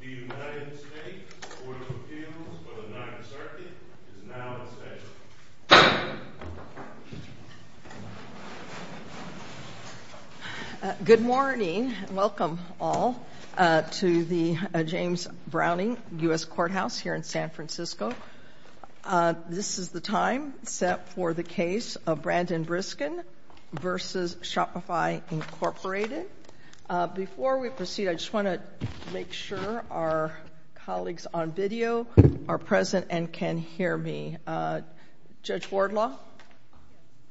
The United States Court of Appeals for the Ninth Circuit is now in session. Good morning and welcome all to the James Browning U.S. Courthouse here in San Francisco. This is the time set for the case of Brandon Briskin v. Shopify, Inc. Before we proceed, I just want to make sure our colleagues on video are present and can hear me. Judge Wardlaw?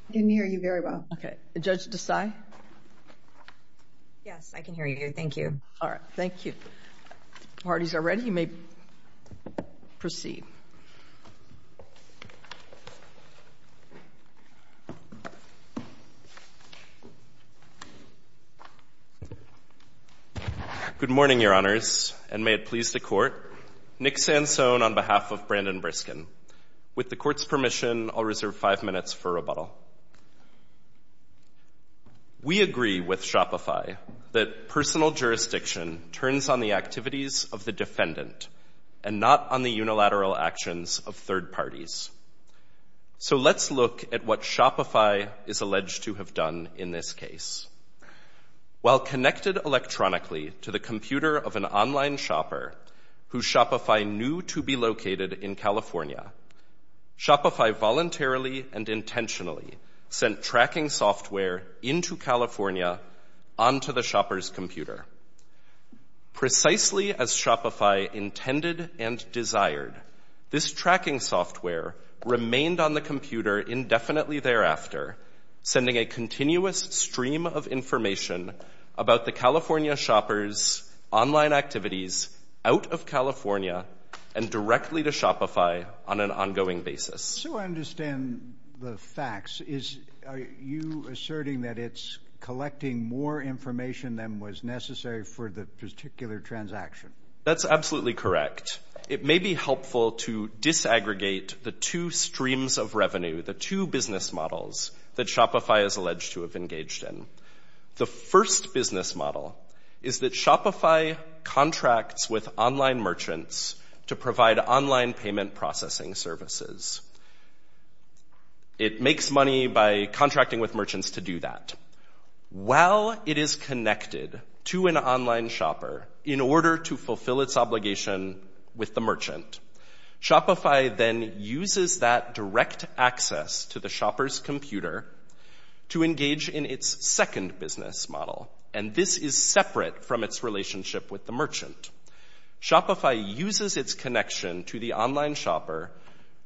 I can hear you very well. Okay. Judge Desai? Yes, I can hear you. Thank you. All right. Thank you. If the parties are ready, you may proceed. Good morning, Your Honors, and may it please the Court. Nick Sansone on behalf of Brandon Briskin. With the Court's permission, I'll reserve five minutes for rebuttal. We agree with Shopify that personal jurisdiction turns on the activities of the defendant and not on the unilateral actions of third parties. So let's look at what Shopify is alleged to have done in this case. While connected electronically to the computer of an online shopper who Shopify knew to be located in California, Shopify voluntarily and intentionally sent tracking software into California onto the shopper's computer. Precisely as Shopify intended and desired, this tracking software remained on the computer indefinitely thereafter, sending a continuous stream of information about the California shopper's online activities out of California and directly to Shopify on an ongoing basis. So I understand the facts. Is you asserting that it's collecting more information than was necessary for the particular transaction? That's absolutely correct. It may be helpful to disaggregate the two streams of revenue, the two business models that Shopify is alleged to have engaged in. The first business model is that Shopify contracts with online merchants to provide online payment processing services. It makes money by contracting with merchants to do that. While it is connected to an online shopper in order to fulfill its obligation with the merchant, Shopify then uses that direct access to the shopper's computer to engage in its second business model. And this is separate from its relationship with the merchant. Shopify uses its connection to the online shopper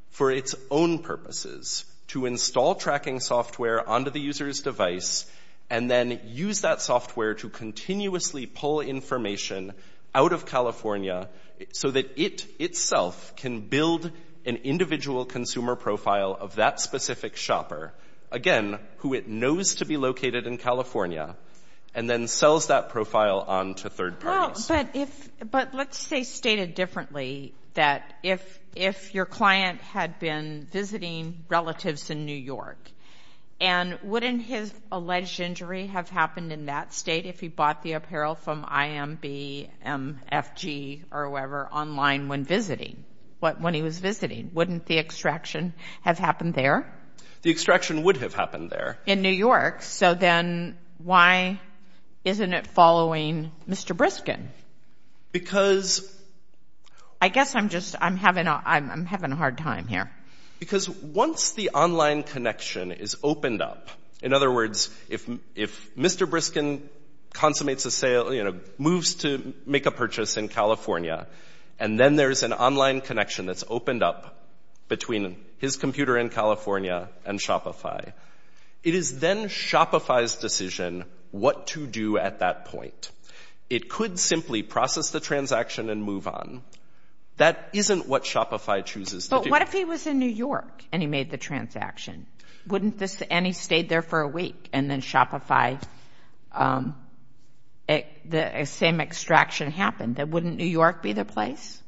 for its own purposes, to install tracking software onto the user's device, and then use that software to continuously pull information out of California so that it itself can build an individual consumer profile of that specific shopper, again, who it knows to be located in California, and then sells that profile on to third parties. But let's say stated differently that if your client had been visiting relatives in New York, and wouldn't his alleged injury have happened in that state if he bought the apparel from IMB, MFG, or whoever online when visiting, when he was visiting? Wouldn't the extraction have happened there? The extraction would have happened there. In New York. So then why isn't it following Mr. Briskin? Because... I guess I'm just, I'm having a hard time here. Because once the online connection is opened up, in other words, if Mr. Briskin consummates a sale, moves to make a purchase in California, and then there's an online connection that's opened up between his computer in California and Shopify, it is then Shopify's decision what to do at that point. It could simply process the transaction and move on. That isn't what Shopify chooses to do. But what if he was in New York, and he made the transaction? Wouldn't this, and he stayed there for a week, and then Shopify, the same extraction happened, then wouldn't New York be the place?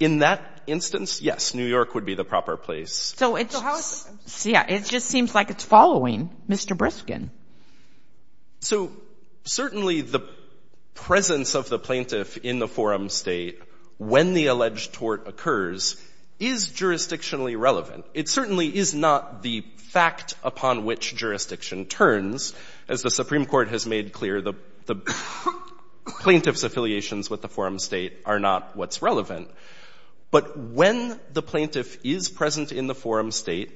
In that instance, yes, New York would be the proper place. So it's, yeah, it just seems like it's following Mr. Briskin. So certainly the presence of the plaintiff in the forum state when the alleged tort occurs is jurisdictionally relevant. It certainly is not the fact upon which jurisdiction turns. As the Supreme Court has made clear, the plaintiff's affiliations with the forum state are not what's relevant. But when the plaintiff is present in the forum state,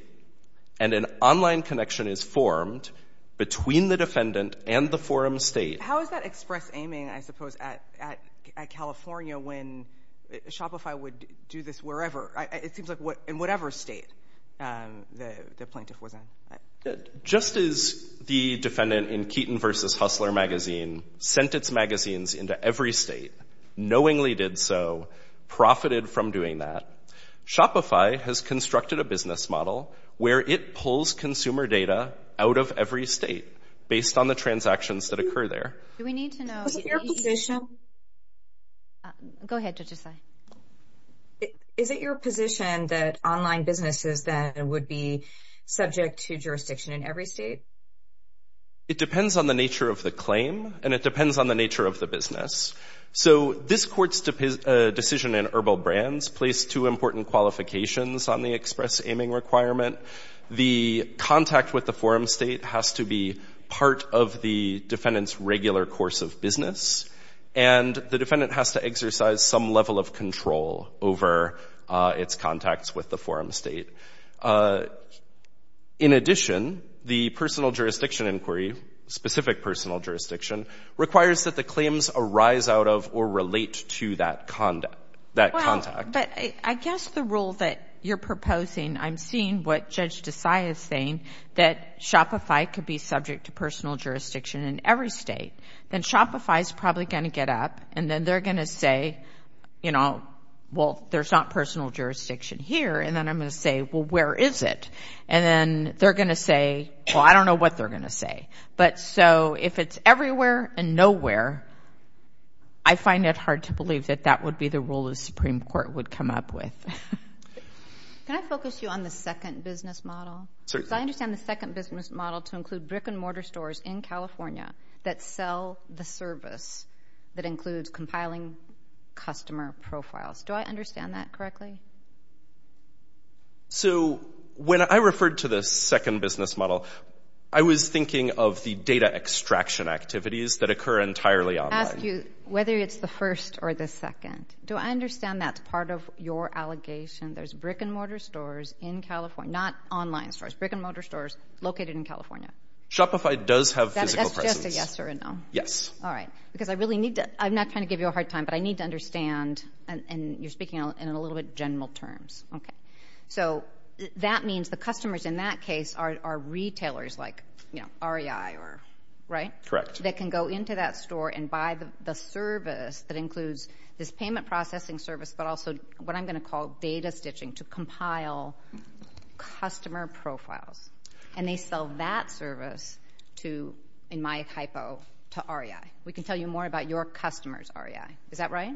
and an online connection is formed between the defendant and the forum state... How is that express aiming, I suppose, at California when Shopify would do this wherever? It seems like in whatever state the plaintiff was in. Just as the defendant in Keaton versus Hustler magazine sent its magazines into every state, knowingly did so, profited from doing that. Shopify has constructed a business model where it pulls consumer data out of every state based on the transactions that occur there. Do we need to know... Is it your position... Go ahead, Judge Asai. Is it your position that online businesses then would be subject to jurisdiction in every state? It depends on the nature of the claim, and it depends on the nature of the business. So this court's decision in Erbil Brands placed two important qualifications on the express aiming requirement. The contact with the forum state has to be part of the defendant's regular course of business, and the defendant has to exercise some level of control over its contacts with the forum state. In addition, the personal jurisdiction inquiry, specific personal jurisdiction, requires that the claims arise out of or relate to that contact. But I guess the rule that you're proposing, I'm seeing what Judge Asai is saying, that Shopify could be subject to personal jurisdiction in every state. Then Shopify is probably going to get up, and then they're going to say, you know, well, there's not personal jurisdiction here. And then I'm going to say, well, where is it? And then they're going to say, well, I don't know what they're going to say. But so if it's everywhere and nowhere, I find it hard to believe that that would be the rule the Supreme Court would come up with. Can I focus you on the second business model? Because I understand the second business model to include brick and mortar stores in California that sell the service that includes compiling customer profiles. Do I understand that correctly? So when I referred to the second business model, I was thinking of the data extraction activities that occur entirely online. I ask you whether it's the first or the second. Do I understand that's part of your allegation? There's brick and mortar stores in California, not online stores, brick and mortar stores located in California. Shopify does have physical presence. That's just a yes or a no? Yes. All right. Because I really need to, I'm not trying to give you a hard time, but I need to understand, and you're speaking in a little bit general terms, so that means the customers in that case are retailers like REI, right? Correct. That can go into that store and buy the service that includes this payment processing service, but also what I'm going to call data stitching to compile customer profiles. And they sell that service to, in my hypo, to REI. We can tell you more about your customers, REI. Is that right?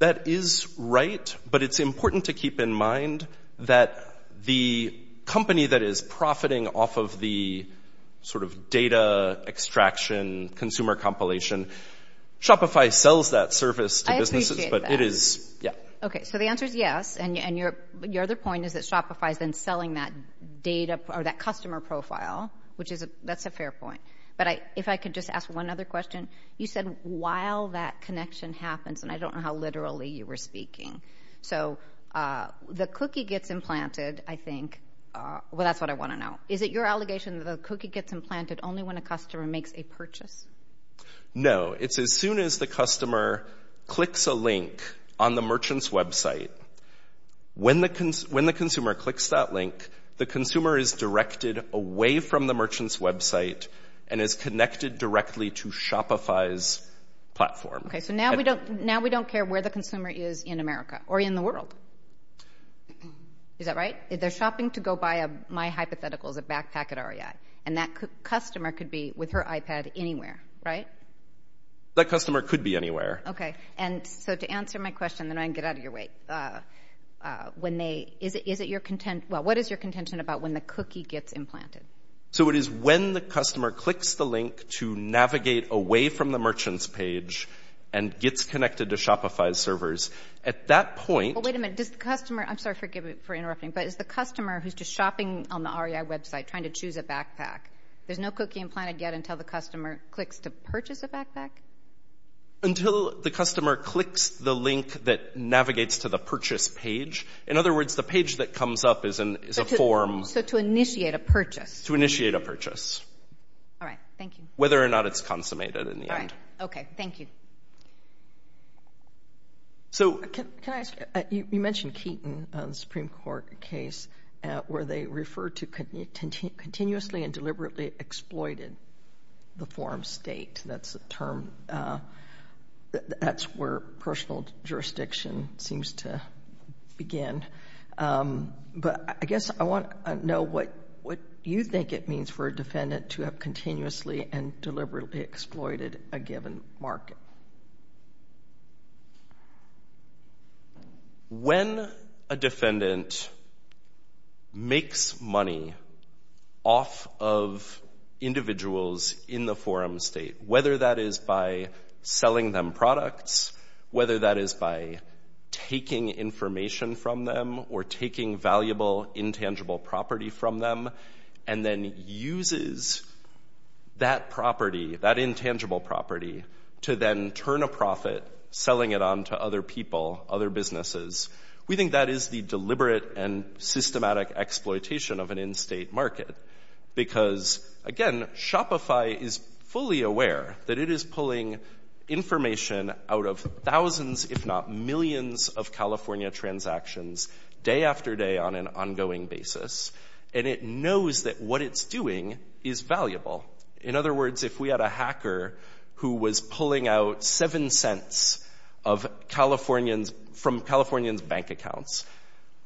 That is right, but it's important to keep in mind that the company that is profiting off of the sort of data extraction, consumer compilation, Shopify sells that service to businesses, but it is, yeah. Okay, so the answer is yes. And your other point is that Shopify is then selling that data or that customer profile, which is, that's a fair point. But if I could just ask one other question, you said while that connection happens, and I don't know how literally you were speaking, so the cookie gets implanted, I think, well, that's what I want to know. Is it your allegation that the cookie gets implanted only when a customer makes a purchase? No, it's as soon as the customer clicks a link on the merchant's website. When the consumer clicks that link, the consumer is directed away from the merchant's website and is connected directly to Shopify's platform. Okay, so now we don't care where the consumer is in America or in the world. Is that right? They're shopping to go buy, my hypothetical is a backpack at REI, and that customer could be with her iPad anywhere, right? That customer could be anywhere. Okay, and so to answer my question, then I can get out of your way. What is your contention about when the cookie gets implanted? So it is when the customer clicks the link to navigate away from the merchant's page and gets connected to Shopify's servers. At that point... Well, wait a minute, does the customer... I'm sorry, forgive me for interrupting, but is the customer who's just shopping on the REI website trying to choose a backpack, there's no cookie implanted yet until the customer clicks to purchase a backpack? Until the customer clicks the link that navigates to the purchase page. In other words, the page that comes up is a form... So to initiate a purchase. To initiate a purchase. All right, thank you. Whether or not it's consummated in the end. All right, okay, thank you. So... Can I ask you, you mentioned Keaton, the Supreme Court case, where they referred to continuously and deliberately exploited the form state, that's the term, that's where personal jurisdiction seems to begin. But I guess I want to know what you think it means for a defendant to have continuously and deliberately exploited a given market. When a defendant makes money off of individuals in the forum state, whether that is by selling them products, whether that is by taking information from them, or taking valuable intangible property from them, and then uses that property, that intangible property, to then turn a profit, selling it on to other people, other businesses, we think that is the deliberate and systematic exploitation of an in-state market. Because, again, Shopify is fully aware that it is pulling information out of thousands, if not millions, of California transactions day after day on an ongoing basis. And it knows that what it's doing is valuable. In other words, if we had a hacker who was pulling out seven cents from Californians' bank accounts,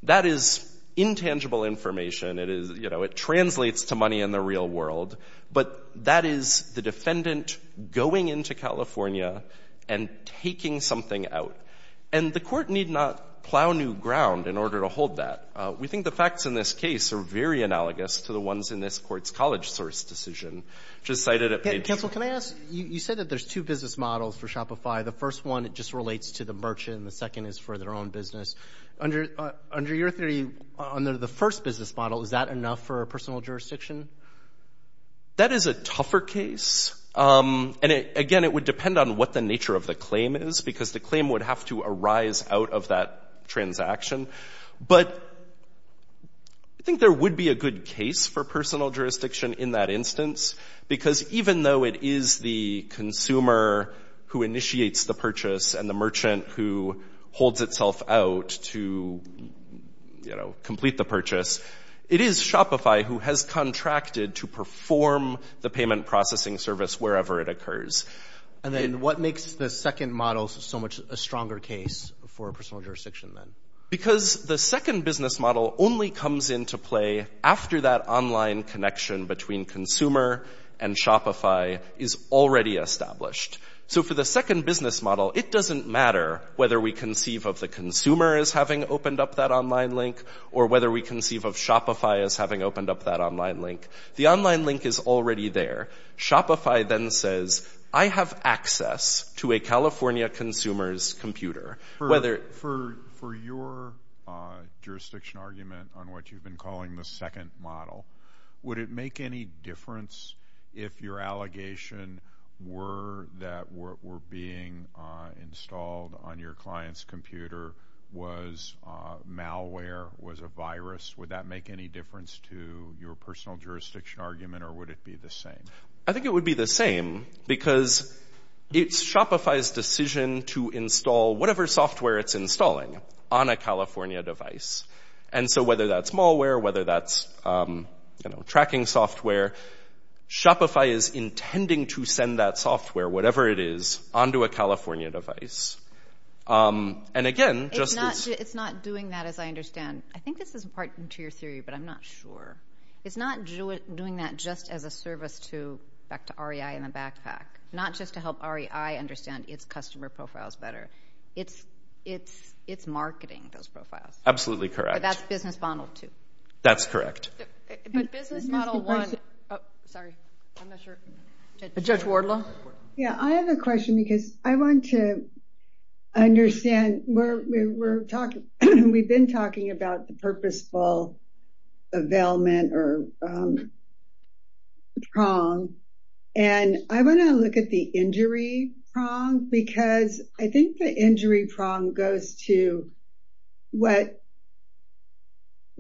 that is intangible information, it translates to money in the real world. But that is the defendant going into California and taking something out. And the court need not plow new ground in order to hold that. We think the facts in this case are very analogous to the ones in this court's college source decision, which is cited at page— Counsel, can I ask, you said that there's two business models for Shopify. The first one, it just relates to the merchant, and the second is for their own business. Under your theory, under the first business model, is that enough for a personal jurisdiction? That is a tougher case. And, again, it would depend on what the nature of the claim is, because the claim would have to arise out of that transaction. But I think there would be a good case for personal jurisdiction in that instance, because even though it is the consumer who initiates the purchase and the merchant who holds itself out to complete the purchase, it is Shopify who has contracted to perform the payment processing service wherever it occurs. And then what makes the second model so much a stronger case for personal jurisdiction then? Because the second business model only comes into play after that online connection between consumer and Shopify is already established. So for the second business model, it doesn't matter whether we conceive of the consumer as having opened up that online link, or whether we conceive of Shopify as having opened up that online link. The online link is already there. Shopify then says, I have access to a California consumer's computer. For your jurisdiction argument on what you've been calling the second model, would it make any difference if your allegation were that what were being installed on your client's computer was malware, was a virus? Would that make any difference to your personal jurisdiction argument, or would it be the same? I think it would be the same, because it's Shopify's decision to install whatever software it's installing on a California device. And so whether that's malware, whether that's tracking software, Shopify is intending to send that software, whatever it is, onto a California device. It's not doing that, as I understand. I think this is part of your theory, but I'm not sure. It's not doing that just as a service to REI and the backpack. Not just to help REI understand its customer profiles better. It's marketing those profiles. Absolutely correct. But that's business model two. That's correct. But business model one... Sorry, I'm not sure. Judge Wardlaw? Yeah, I have a question, because I want to understand... We've been talking about the purposeful availment or prong. And I want to look at the injury prong, because I think the injury prong goes to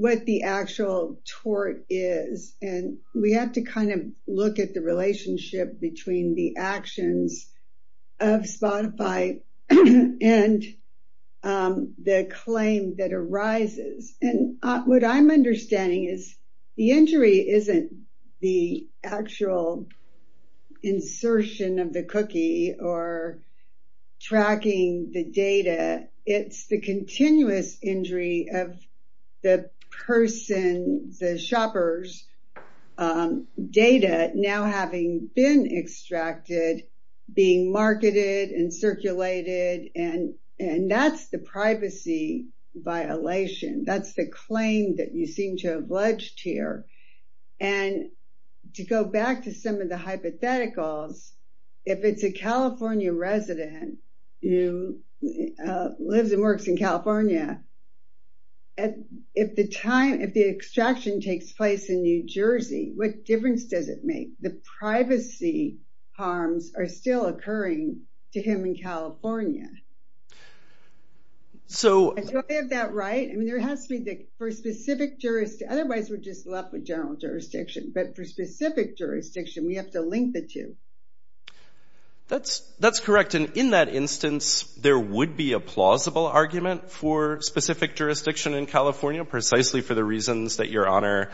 what the actual tort is. And we have to kind of look at the relationship between the actions of Spotify and the claim that arises. And what I'm understanding is, the injury isn't the actual insertion of the cookie or tracking the data. It's the continuous injury of the person, the shopper's data now having been extracted, being marketed and circulated. And that's the privacy violation. That's the claim that you seem to have alleged here. And to go back to some of the hypotheticals, if it's a California resident who lives and works in California, if the extraction takes place in New Jersey, what difference does it make? The privacy harms are still occurring to him in California. So... Do I have that right? Otherwise, we're just left with general jurisdiction. But for specific jurisdiction, we have to link the two. That's correct. And in that instance, there would be a plausible argument for specific jurisdiction in California, precisely for the reasons that Your Honor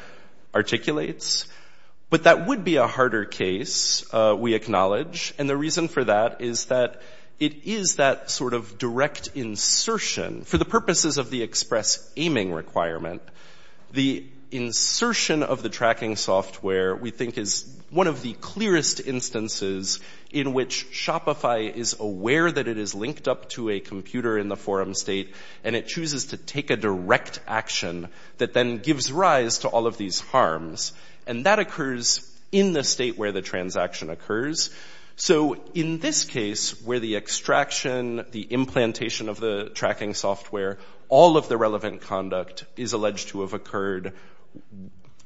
articulates. But that would be a harder case, we acknowledge. And the reason for that is that it is that sort of direct insertion. For the purposes of the express aiming requirement, the insertion of the tracking software, we think, is one of the clearest instances in which Shopify is aware that it is linked up to a computer in the forum state, and it chooses to take a direct action that then gives rise to all of these harms. And that occurs in the state where the transaction occurs. So in this case, where the extraction, the implantation of the tracking software, all of the relevant conduct is alleged to have occurred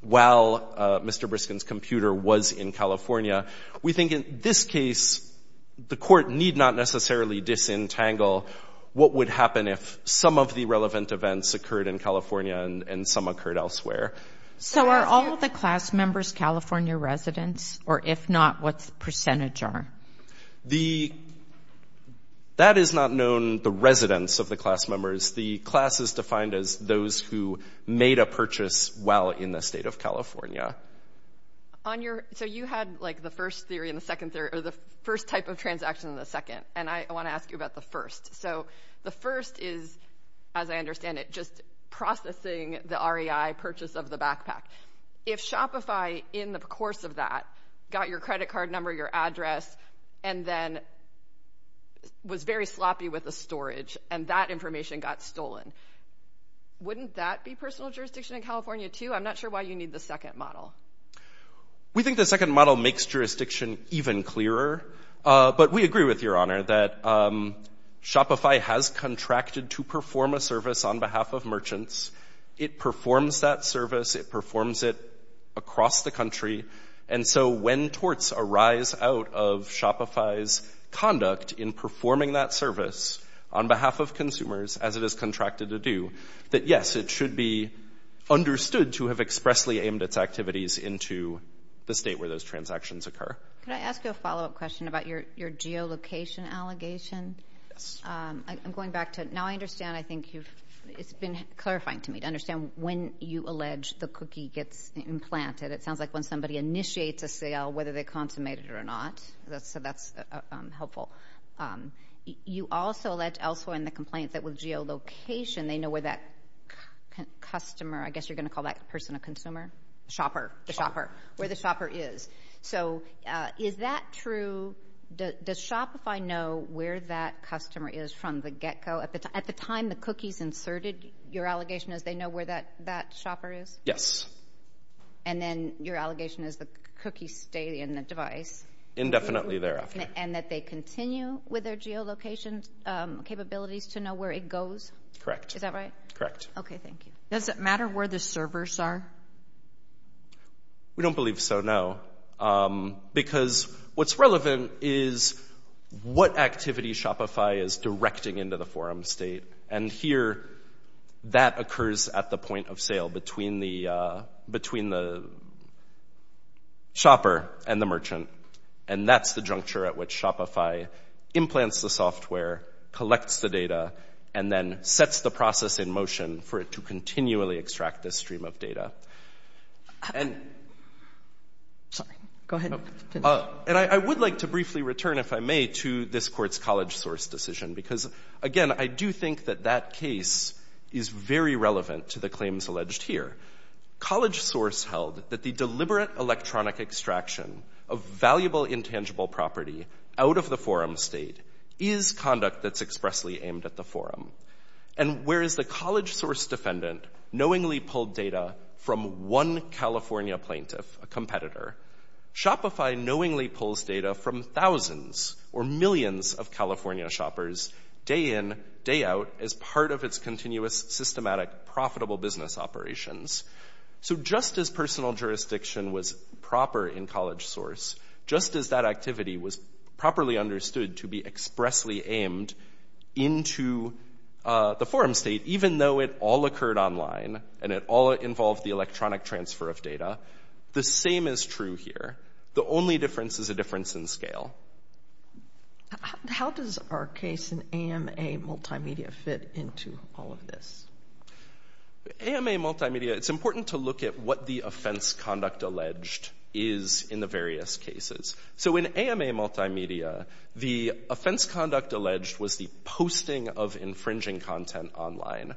while Mr. Briskin's computer was in California, we think in this case, the court need not necessarily disentangle what would happen if some of the relevant events occurred in California and some occurred elsewhere. So are all of the class members California residents? Or if not, what's the percentage are? That is not known, the residents of the class members. The class is defined as those who made a purchase while in the state of California. So you had like the first theory and the second theory, or the first type of transaction and the second. And I want to ask you about the first. So the first is, as I understand it, just processing the REI purchase of the backpack. If Shopify in the course of that got your credit card number, your address, and then was very sloppy with the storage and that information got stolen, wouldn't that be personal jurisdiction in California too? I'm not sure why you need the second model. We think the second model makes jurisdiction even clearer. But we agree with your honor that Shopify has contracted to perform a service on behalf of merchants. It performs that service. It performs it across the country. And so when torts arise out of Shopify's conduct in performing that service on behalf of consumers, as it is contracted to do, that yes, it should be understood to have expressly aimed its activities into the state where those transactions occur. Can I ask you a follow-up question about your geolocation allegation? Yes. I'm going back to, now I understand, I think you've, it's been clarifying to me to understand when you allege the cookie gets implanted. It sounds like when somebody initiates a sale, whether they consummate it or not. So that's helpful. You also allege elsewhere in the complaint that with geolocation, they know where that customer, I guess you're going to call that person a consumer, shopper, the shopper, where the shopper is. So is that true? Does Shopify know where that customer is from the get-go? At the time the cookie's inserted, your allegation is they know where that shopper is? Yes. And then your allegation is the cookie stayed in the device? Indefinitely thereafter. And that they continue with their geolocation capabilities to know where it goes? Correct. Is that right? Correct. Okay, thank you. Does it matter where the servers are? We don't believe so, no. Because what's relevant is what activity Shopify is directing into the forum state. And here, that occurs at the point of sale between the shopper and the merchant. And that's the juncture at which Shopify implants the software, collects the data, and then sets the process in motion for it to continually extract this stream of data. Sorry, go ahead. And I would like to briefly return, if I may, to this court's college source decision. Because again, I do think that that case is very relevant to the claims alleged here. College source held that the deliberate electronic extraction of valuable intangible property out of the forum state is conduct that's expressly aimed at the forum. And whereas the college source defendant knowingly pulled data from one California plaintiff, a competitor, Shopify knowingly pulls data from thousands or millions of California shoppers day in, day out, as part of its continuous, systematic, profitable business operations. So just as personal jurisdiction was proper in college source, just as that activity was properly understood to be expressly aimed into the forum state, even though it all occurred online, and it all involved the electronic transfer of data, the same is true here. The only difference is a difference in scale. How does our case in AMA multimedia fit into all of this? AMA multimedia, it's important to look at what the offense conduct alleged is in the various cases. So in AMA multimedia, the offense conduct alleged was the posting of infringing content online.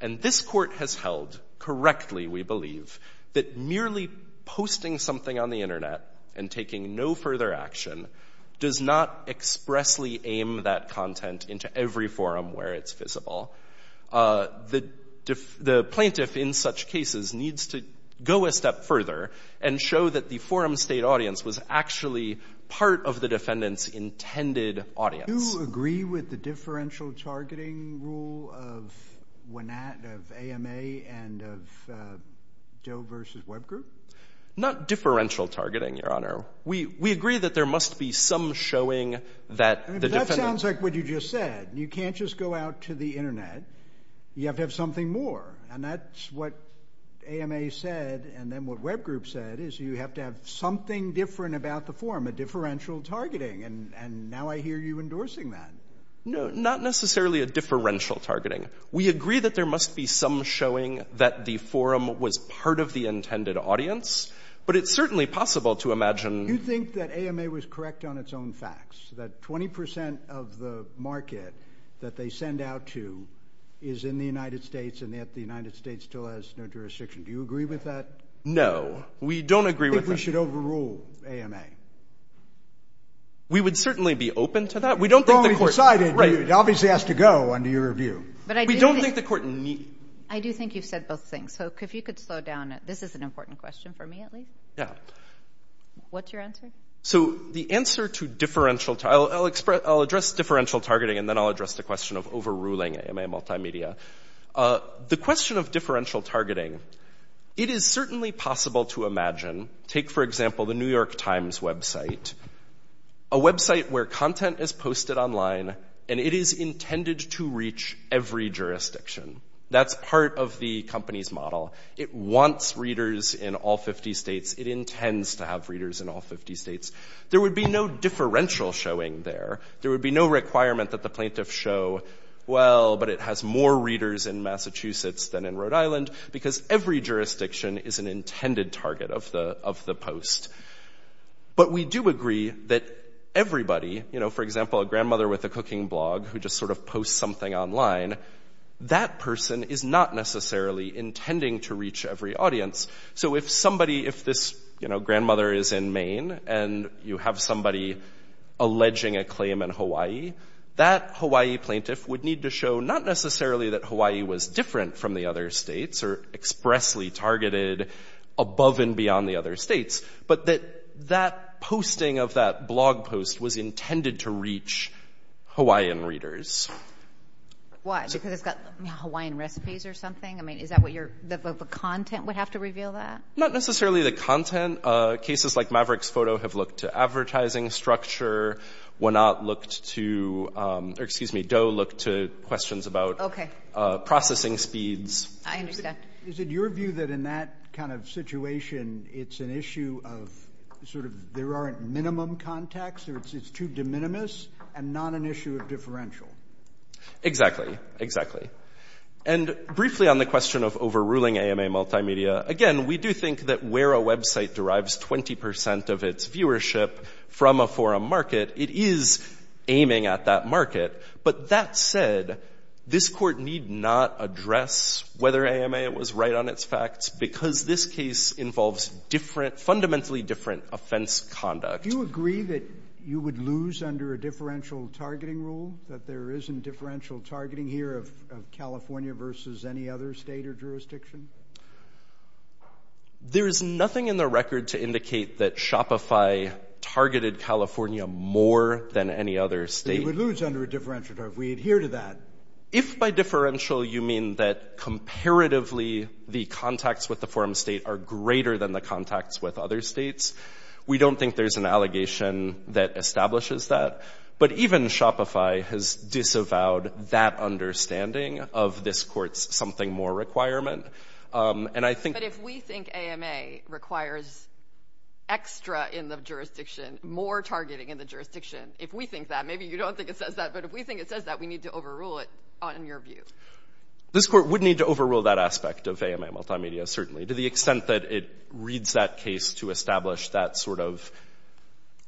And this court has held correctly, we believe, that merely posting something on the internet and taking no further action does not expressly aim that content into every forum where it's visible. The plaintiff in such cases needs to go a step further and show that the forum state audience was actually part of the defendant's intended audience. Do you agree with the differential targeting rule of AMA and of Doe versus Web Group? Not differential targeting, Your Honor. We agree that there must be some showing that the defendant- That sounds like what you just said. You can't just go out to the internet. You have to have something more. And that's what AMA said. And then what Web Group said is you have to have something different about the forum, a differential targeting. And now I hear you endorsing that. No, not necessarily a differential targeting. We agree that there must be some showing that the forum was part of the intended audience, but it's certainly possible to imagine- You think that AMA was correct on its own facts, that 20% of the market that they send out to is in the United States and that the United States still has no jurisdiction. Do you agree with that? No, we don't agree with that. I think we should overrule AMA. We would certainly be open to that. We don't think the court- Well, we've decided. It obviously has to go under your review. But I do think- We don't think the court- I do think you've said both things. So if you could slow down. This is an important question for me, at least. Yeah. What's your answer? So the answer to differential- I'll address differential targeting and then I'll address the question of overruling AMA Multimedia. The question of differential targeting, it is certainly possible to imagine, take, for example, the New York Times website, a website where content is posted online and it is intended to reach every jurisdiction. That's part of the company's model. It wants readers in all 50 states. It intends to have readers in all 50 states. There would be no differential showing there. There would be no requirement that the plaintiff show, well, but it has more readers in Massachusetts than in Rhode Island because every jurisdiction is an intended target of the post. But we do agree that everybody, for example, a grandmother with a cooking blog who just sort of posts something online, that person is not necessarily intending to reach every audience. So if somebody, if this grandmother is in Maine and you have somebody alleging a claim in Hawaii, that Hawaii plaintiff would need to show not necessarily that Hawaii was different from the other states or expressly targeted above and beyond the other states, but that that posting of that blog post was intended to reach Hawaiian readers. Why? Because it's got Hawaiian recipes or something? I mean, is that what your, the content would have to reveal that? Not necessarily the content. Cases like Maverick's photo have looked to advertising structure, Wenat looked to, or excuse me, Doe looked to questions about processing speeds. I understand. Is it your view that in that kind of situation, it's an issue of sort of there aren't minimum contacts or it's too de minimis and not an issue of differential? Exactly, exactly. And briefly on the question of overruling AMA multimedia, again, we do think that where a website derives 20% of its viewership from a forum market, it is aiming at that market. But that said, this court need not address whether AMA was right on its facts because this case involves fundamentally different offense conduct. Do you agree that you would lose under a differential targeting rule, that there isn't differential targeting here of California versus any other state or jurisdiction? There is nothing in the record to indicate that Shopify targeted California more than any other state. You would lose under a differential, if we adhere to that. If by differential, you mean that comparatively, the contacts with the forum state are greater than the contacts with other states, we don't think there's an allegation that establishes that. But even Shopify has disavowed that understanding of this court's something more requirement. But if we think AMA requires extra in the jurisdiction, more targeting in the jurisdiction, if we think that, maybe you don't think it says that, but if we think it says that, we need to overrule it on your view. This court would need to overrule that aspect of AMA multimedia, certainly, to the extent that it reads that case to establish that sort of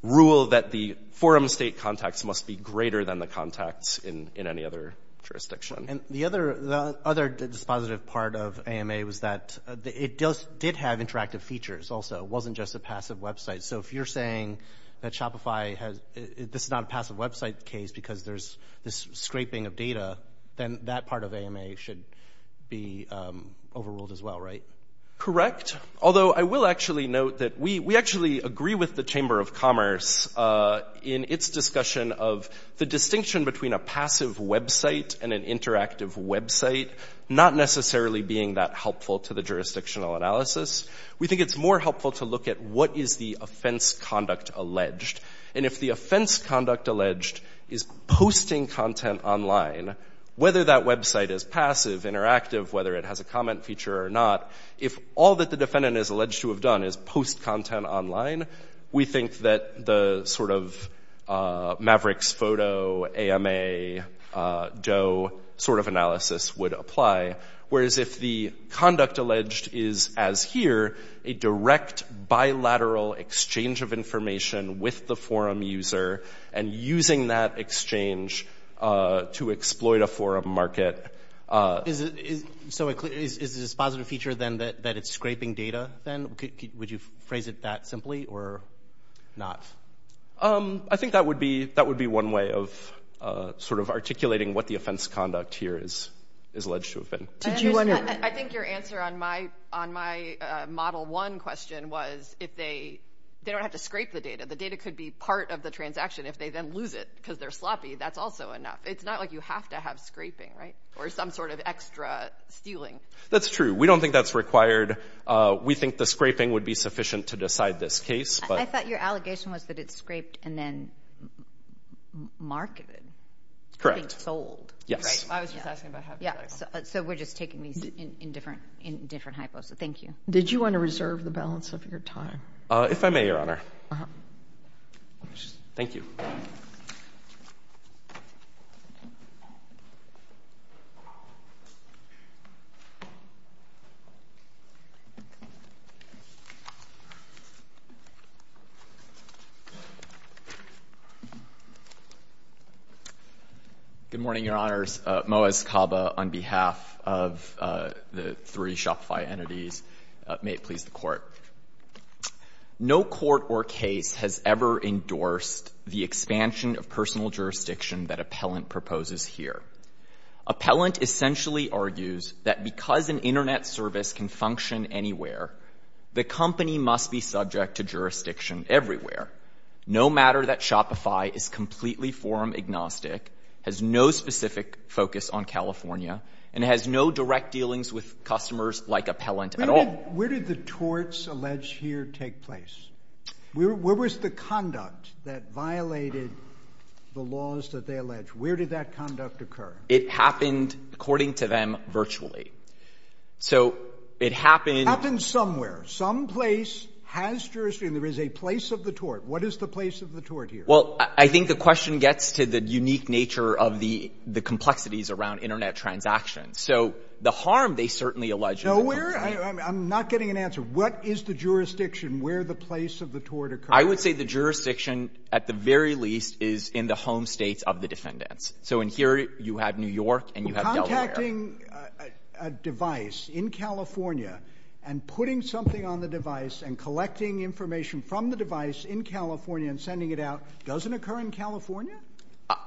rule that the forum state contacts must be greater than the contacts in any other jurisdiction. And the other dispositive part of AMA was that it did have interactive features also, it wasn't just a passive website. So if you're saying that Shopify has, this is not a passive website case because there's this scraping of data, then that part of AMA should be overruled as well, right? Correct. Although I will actually note that we actually agree with the Chamber of Commerce in its discussion of the distinction between a passive website and an interactive website, not necessarily being that helpful to the jurisdictional analysis. We think it's more helpful to look at what is the offense conduct alleged. And if the offense conduct alleged is posting content online, whether that website is passive, interactive, whether it has a comment feature or not, if all that the defendant is alleged to have done is post content online, we think that the sort of Mavericks Photo, AMA, Doe sort of analysis would apply. Whereas if the conduct alleged is, as here, a direct bilateral exchange of information with the forum user and using that exchange to exploit a forum market. So is this positive feature then that it's scraping data then? Would you phrase it that simply or not? I think that would be one way of sort of articulating what the offense conduct here is alleged to have been. I think your answer on my model one question was if they don't have to scrape the data, the data could be part of the transaction. If they then lose it because they're sloppy, that's also enough. It's not like you have to have scraping, right? Or some sort of extra stealing. That's true. We don't think that's required. We think the scraping would be sufficient to decide this case. I thought your allegation was that it's scraped and then marketed. Correct. Being sold. Yes. I was just asking about hypothetical. So we're just taking these in different hypos. Thank you. Did you want to reserve the balance of your time? If I may, Your Honor. Thank you. Good morning, Your Honors. Moaz Kaba on behalf of the three Shopify entities. May it please the court. No court or case has ever endorsed the expansion of personal jurisdiction that Appellant proposes here. Appellant essentially argues that because an internet service can function anywhere, the company must be subject to jurisdiction everywhere. No matter that Shopify is completely forum agnostic, has no specific focus on California, and has no direct dealings with customers like Appellant at all. Where did the torts alleged here take place? Where was the conduct that violated the laws that they allege? Where did that conduct occur? It happened, according to them, virtually. So it happened... Happened somewhere. Some place has jurisdiction. There is a place of the tort. What is the place of the tort here? Well, I think the question gets to the unique nature of the complexities around internet transactions. So the harm they certainly allege... I'm not getting an answer. What is the jurisdiction where the place of the tort occurred? I would say the jurisdiction, at the very least, is in the home states of the defendants. So in here, you have New York and you have Delaware. Contacting a device in California and putting something on the device and collecting information from the device in California and sending it out doesn't occur in California?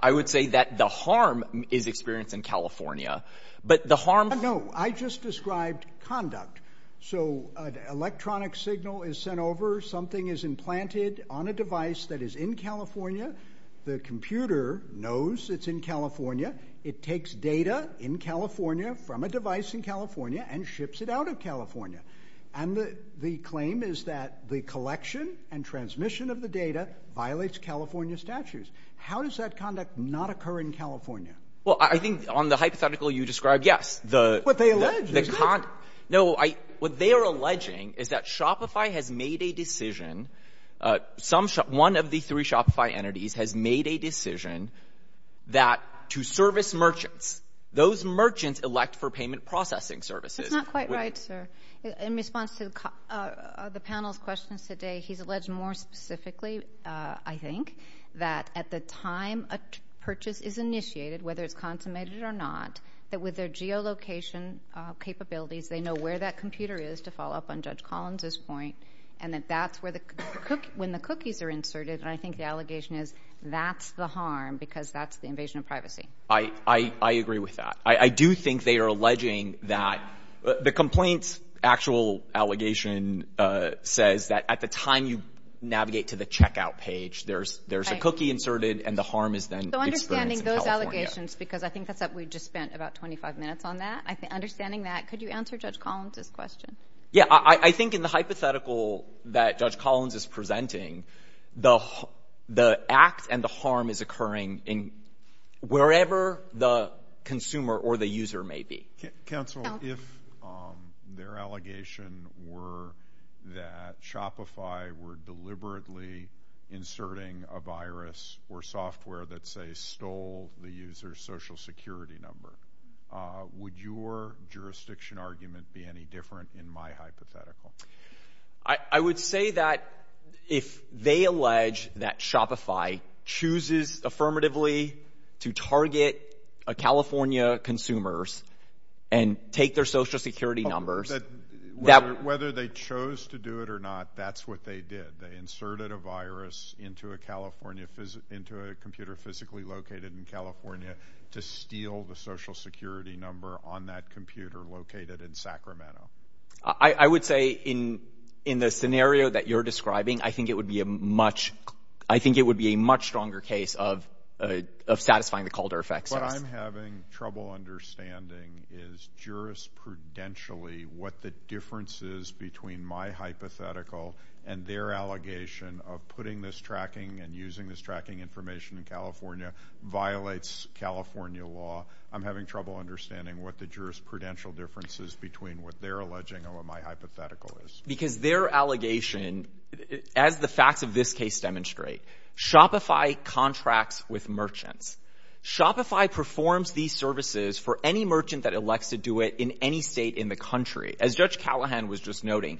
I would say that the harm is experienced in California, but the harm... I just described conduct. So an electronic signal is sent over. Something is implanted on a device that is in California. The computer knows it's in California. It takes data in California from a device in California and ships it out of California. And the claim is that the collection and transmission of the data violates California statutes. How does that conduct not occur in California? Well, I think on the hypothetical you described, yes. What they allege is that... No, what they are alleging is that Shopify has made a decision. One of the three Shopify entities has made a decision that to service merchants, those merchants elect for payment processing services. That's not quite right, sir. In response to the panel's questions today, he's alleged more specifically, I think, that at the time a purchase is initiated, whether it's consummated or not, that with their geolocation capabilities, they know where that computer is, to follow up on Judge Collins's point, and that that's when the cookies are inserted. And I think the allegation is that's the harm because that's the invasion of privacy. I agree with that. I do think they are alleging that... The complaint's actual allegation says that at the time you navigate to the checkout page, there's a cookie inserted and the harm is then experienced in California. So understanding those allegations, because I think that's what we just spent about 25 minutes on that. Understanding that, could you answer Judge Collins's question? Yeah, I think in the hypothetical that Judge Collins is presenting, the act and the harm is occurring in wherever the consumer or the user may be. Counsel, if their allegation were that Shopify were deliberately inserting a virus or software that, say, stole the user's social security number, would your jurisdiction argument be any different in my hypothetical? I would say that if they allege that Shopify chooses affirmatively to target California consumers and take their social security numbers... Whether they chose to do it or not, that's what they did. They inserted a virus into a California... into a computer physically located in California to steal the social security number on that computer located in Sacramento. I would say in the scenario that you're describing, I think it would be a much... I think it would be a much stronger case of satisfying the Calder effect. What I'm having trouble understanding is jurisprudentially what the difference is between my hypothetical and their allegation of putting this tracking and using this tracking information in California violates California law. I'm having trouble understanding what the jurisprudential difference is between what they're alleging and what my hypothetical is. Because their allegation, as the facts of this case demonstrate, Shopify contracts with merchants. Shopify performs these services for any merchant that elects to do it in any state in the country. As Judge Callahan was just noting,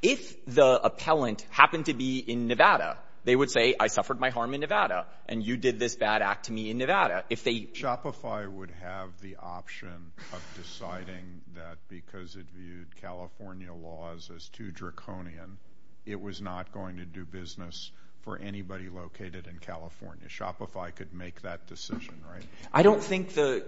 if the appellant happened to be in Nevada, they would say, I suffered my harm in Nevada and you did this bad act to me in Nevada. If they... Shopify would have the option of deciding that because it viewed California laws as too draconian, it was not going to do business for anybody located in California. Shopify could make that decision, right? I don't think the...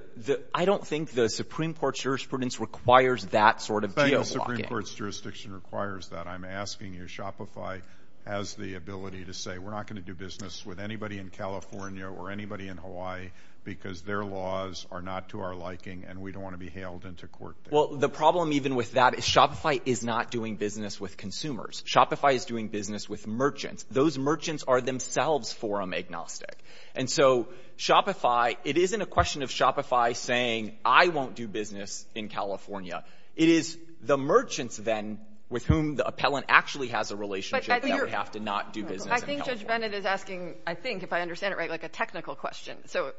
I don't think the Supreme Court's jurisprudence requires that sort of geo-blocking. The Supreme Court's jurisdiction requires that. I'm asking you, Shopify has the ability to say, we're not going to do business with anybody in California or anybody in Hawaii because their laws are not to our liking and we don't want to be hailed into court. Well, the problem even with that is Shopify is not doing business with consumers. Shopify is doing business with merchants. Those merchants are themselves forum agnostic. And so Shopify, it isn't a question of Shopify saying, I won't do business in California. It is the merchants then with whom the appellant actually has a relationship that would have to not do business in California. I think Judge Bennett is asking, I think if I understand it right, like a technical question. So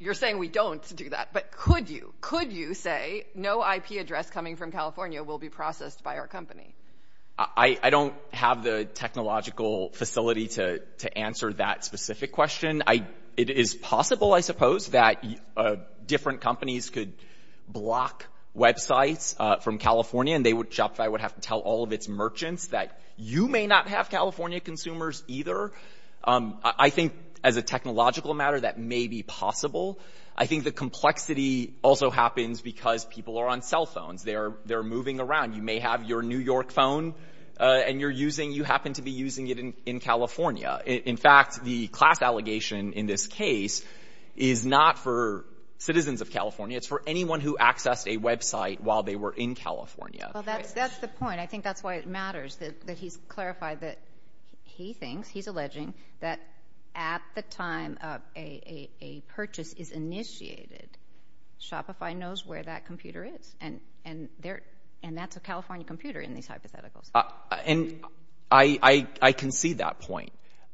you're saying we don't do that, but could you say no IP address coming from California will be processed by our company? I don't have the technological facility to answer that specific question. It is possible, I suppose, that different companies could block websites from California and they would, Shopify would have to tell all of its merchants that you may not have California consumers either. I think as a technological matter, that may be possible. I think the complexity also happens because people are on cell phones. They're moving around. You may have your New York phone and you're using, you happen to be using it in California. In fact, the class allegation in this case is not for citizens of California. It's for anyone who accessed a website while they were in California. Well, that's the point. I think that's why it matters that he's clarified that he thinks, he's alleging that at the time of a purchase is initiated, Shopify knows where that computer is. And that's a California computer in these hypotheticals. And I can see that point.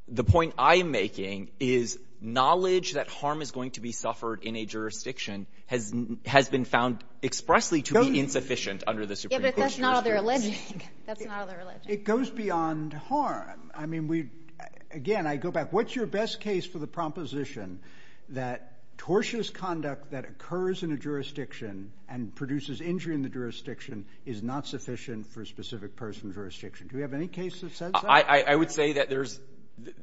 The point I am making is knowledge that harm is going to be suffered in a jurisdiction has been found expressly to be insufficient under the Supreme Court. That's not all they're alleging. That's not all they're alleging. It goes beyond harm. I mean, again, I go back, what's your best case for the proposition that tortious conduct that occurs in a jurisdiction and produces injury in the jurisdiction is not sufficient for a specific person jurisdiction? Do we have any cases that says that? I would say that there's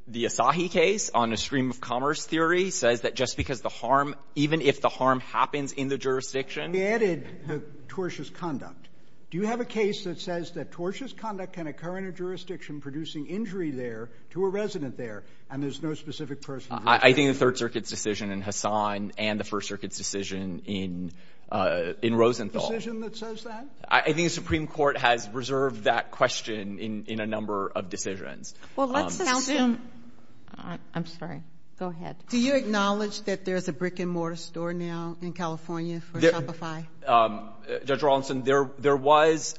the Asahi case on a stream of commerce theory. He says that just because the harm, even if the harm happens in the jurisdiction. He added the tortious conduct. Do you have a case that says that tortious conduct can occur in a jurisdiction producing injury there to a resident there? And there's no specific person. I think the third circuit's decision in Hassan and the first circuit's decision in Rosenthal. Decision that says that? I think the Supreme Court has reserved that question in a number of decisions. Well, let's assume, I'm sorry, go ahead. Do you acknowledge that there's a brick and mortar store now in California for Shopify? Judge Rawlinson, there was,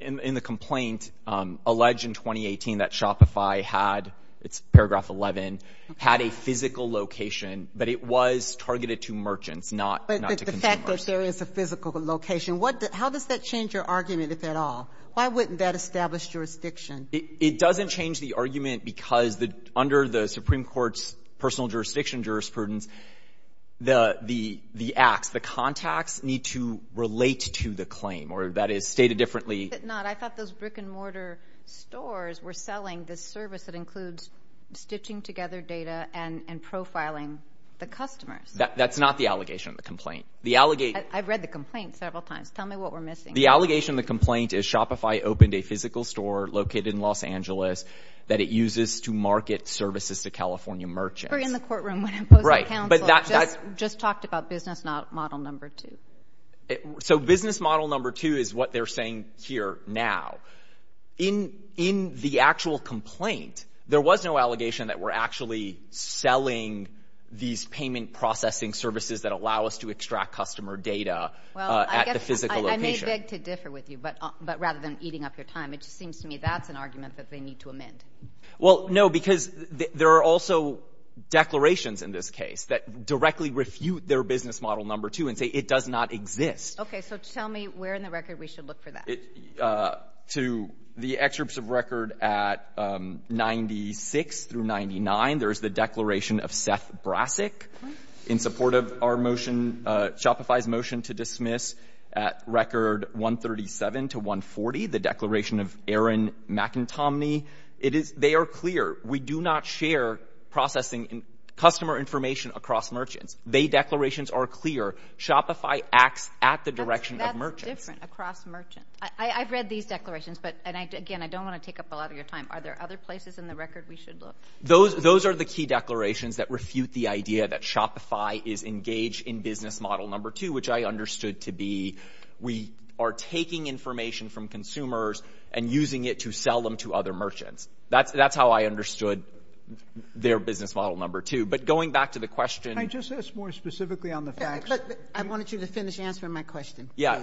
in the complaint, alleged in 2018 that Shopify had, it's paragraph 11, had a physical location, but it was targeted to merchants, not to consumers. But the fact that there is a physical location, how does that change your argument, if at all? Why wouldn't that establish jurisdiction? It doesn't change the argument because under the Supreme Court's personal jurisdiction jurisprudence, the acts, the contacts need to relate to the claim, or that is stated differently. But not, I thought those brick and mortar stores were selling this service that includes stitching together data and profiling the customers. That's not the allegation of the complaint. The allegation- I've read the complaint several times. Tell me what we're missing. The allegation of the complaint is Shopify opened a physical store located in Los Angeles that it uses to market services to California merchants. We're in the courtroom when I'm posing counsel. But that's- Just talked about business model number two. So business model number two is what they're saying here now. In the actual complaint, there was no allegation that we're actually selling these payment processing services that allow us to extract customer data at the physical location. I may beg to differ with you, but rather than eating up your time, it just seems to me that's an argument that they need to amend. Well, no, because there are also declarations in this case that directly refute their business model number two and say it does not exist. Okay, so tell me where in the record we should look for that. To the excerpts of record at 96 through 99, there's the declaration of Seth Brassic. In support of our motion, Shopify's motion to dismiss at record 137 to 140, the declaration of Aaron McIntominy. They are clear. We do not share processing customer information across merchants. They declarations are clear. Shopify acts at the direction of merchants. That's different, across merchants. I've read these declarations, but again, I don't want to take up a lot of your time. Are there other places in the record we should look? Those are the key declarations that refute the idea that Shopify is engaged in business model number two, which I understood to be we are taking information from consumers and using it to sell them to other merchants. That's how I understood their business model number two. But going back to the question... Can I just ask more specifically on the facts? I wanted you to finish answering my question. Yeah,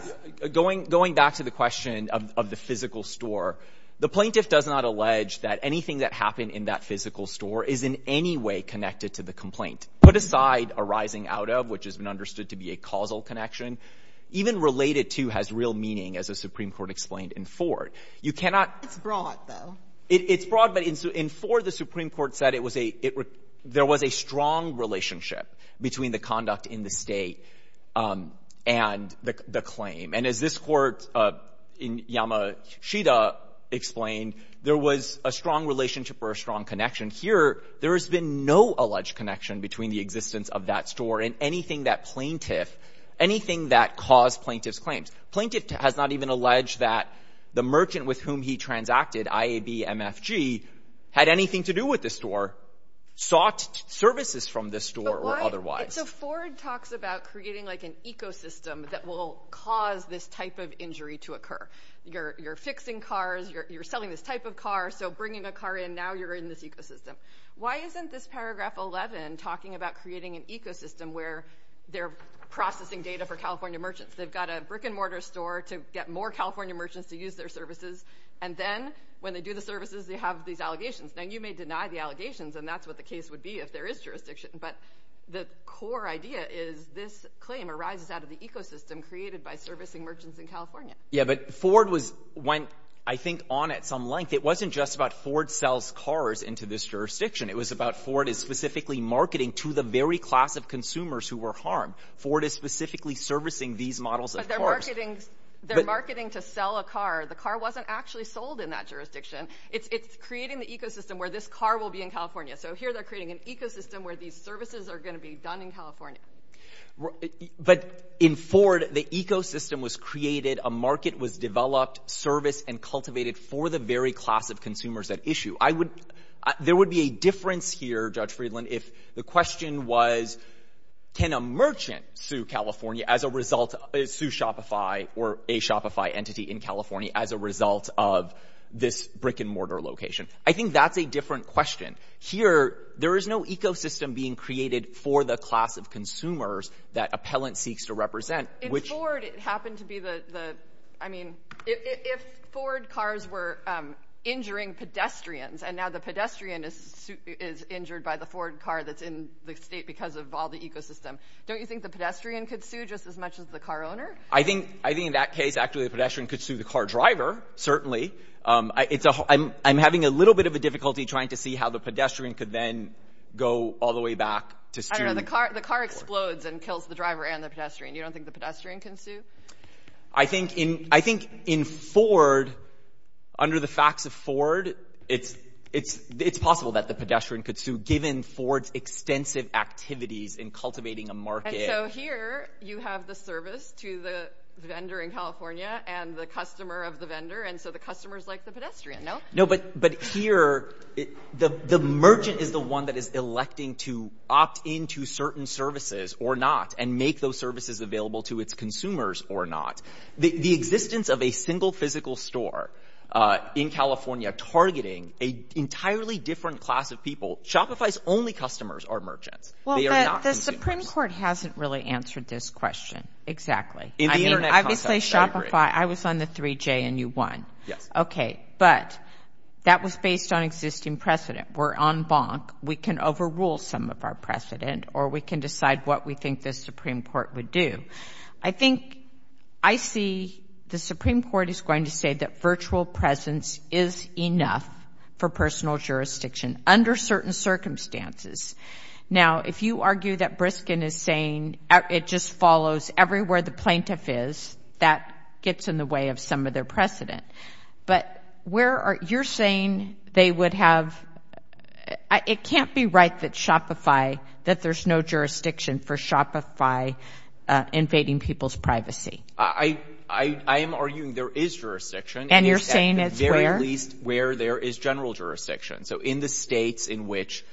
going back to the question of the physical store, the plaintiff does not allege that anything that happened in that physical store is in any way connected to the complaint. Put aside a rising out of, which has been understood to be a causal connection, even related to has real meaning, as the Supreme Court explained in Ford. You cannot... It's broad though. It's broad, but in Ford, the Supreme Court said there was a strong relationship between the conduct in the state and the claim. And as this court in Yamashita explained, there was a strong relationship or a strong connection. Here, there has been no alleged connection between the existence of that store and anything that plaintiff, anything that caused plaintiff's claims. Plaintiff has not even alleged that the merchant with whom he transacted, IAB, MFG, had anything to do with this store, sought services from this store or otherwise. So Ford talks about creating like an ecosystem that will cause this type of injury to occur. You're fixing cars, you're selling this type of car. So bringing a car in, now you're in this ecosystem. Why isn't this paragraph 11 talking about creating an ecosystem where they're processing data for California merchants? They've got a brick and mortar store to get more California merchants to use their services. And then when they do the services, they have these allegations. Now you may deny the allegations and that's what the case would be if there is jurisdiction. But the core idea is this claim arises out of the ecosystem created by servicing merchants in California. Yeah, but Ford went, I think, on at some length. It wasn't just about Ford sells cars into this jurisdiction. It was about Ford is specifically marketing to the very class of consumers who were harmed. Ford is specifically servicing these models of cars. But they're marketing to sell a car. The car wasn't actually sold in that jurisdiction. It's creating the ecosystem where this car will be in California. So here they're creating an ecosystem where these services are going to be done in California. But in Ford, the ecosystem was created. A market was developed, serviced and cultivated for the very class of consumers at issue. There would be a difference here, Judge Friedland, if the question was, can a merchant sue California as a result, sue Shopify or a Shopify entity in California as a result of this brick and mortar location? I think that's a different question. Here, there is no ecosystem being created for the class of consumers that appellant seeks to represent. If Ford happened to be the, I mean, if Ford cars were injuring pedestrians and now the pedestrian is injured by the Ford car that's in the state because of all the ecosystem, don't you think the pedestrian could sue just as much as the car owner? I think in that case, actually, the pedestrian could sue the car driver, certainly. I'm having a little bit of a difficulty trying to see how the pedestrian could then go all the way back to sue. I don't know, the car explodes and kills the driver and the pedestrian. You don't think the pedestrian can sue? I think in Ford, under the facts of Ford, it's possible that the pedestrian could sue given Ford's extensive activities in cultivating a market. And so here, you have the service to the vendor in California and the customer of the vendor, and so the customer's like the pedestrian, no? No, but here, the merchant is the one that is electing to opt into certain services or not and make those services available to its consumers or not. The existence of a single physical store in California targeting an entirely different class of people, Shopify's only customers are merchants. Well, the Supreme Court hasn't really answered this question exactly. In the internet context, I agree. I was on the 3J and you won. Yes. Okay, but that was based on existing precedent. We're on bonk. We can overrule some of our precedent or we can decide what we think the Supreme Court would do. I think I see the Supreme Court is going to say that virtual presence is enough for personal jurisdiction under certain circumstances. Now, if you argue that Briskin is saying it just follows everywhere the plaintiff is, that gets in the way of some of their precedent. But you're saying they would have, it can't be right that Shopify, that there's no jurisdiction for Shopify invading people's privacy. I am arguing there is jurisdiction. And you're saying it's where? At the very least where there is general jurisdiction. So in the states in which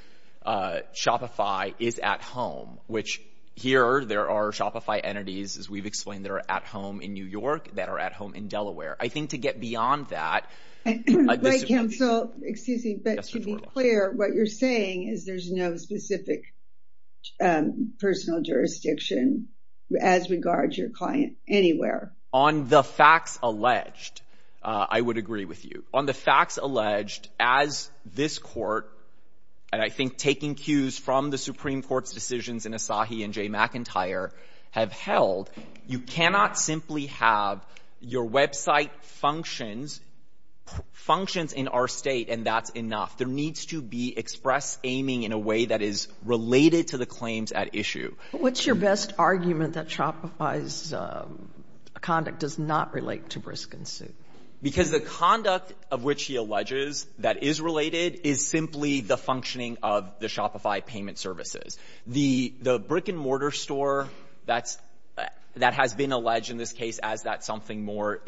Shopify is at home, which here there are Shopify entities, as we've explained, that are at home in New York, that are at home in Delaware. I think to get beyond that- Right, Ken, so, excuse me, but to be clear, what you're saying is there's no specific personal jurisdiction as regards your client. On the facts alleged, I would agree with you. On the facts alleged, as this court, and I think taking cues from the Supreme Court's decisions in Asahi and Jay McIntyre have held, you cannot simply have your website functions in our state and that's enough. There needs to be express aiming in a way that is related to the claims at issue. What's your best argument that Shopify's conduct does not relate to Briskin's suit? Because the conduct of which he alleges that is related is simply the functioning of the Shopify payment services. The brick and mortar store that has been alleged in this case as that something more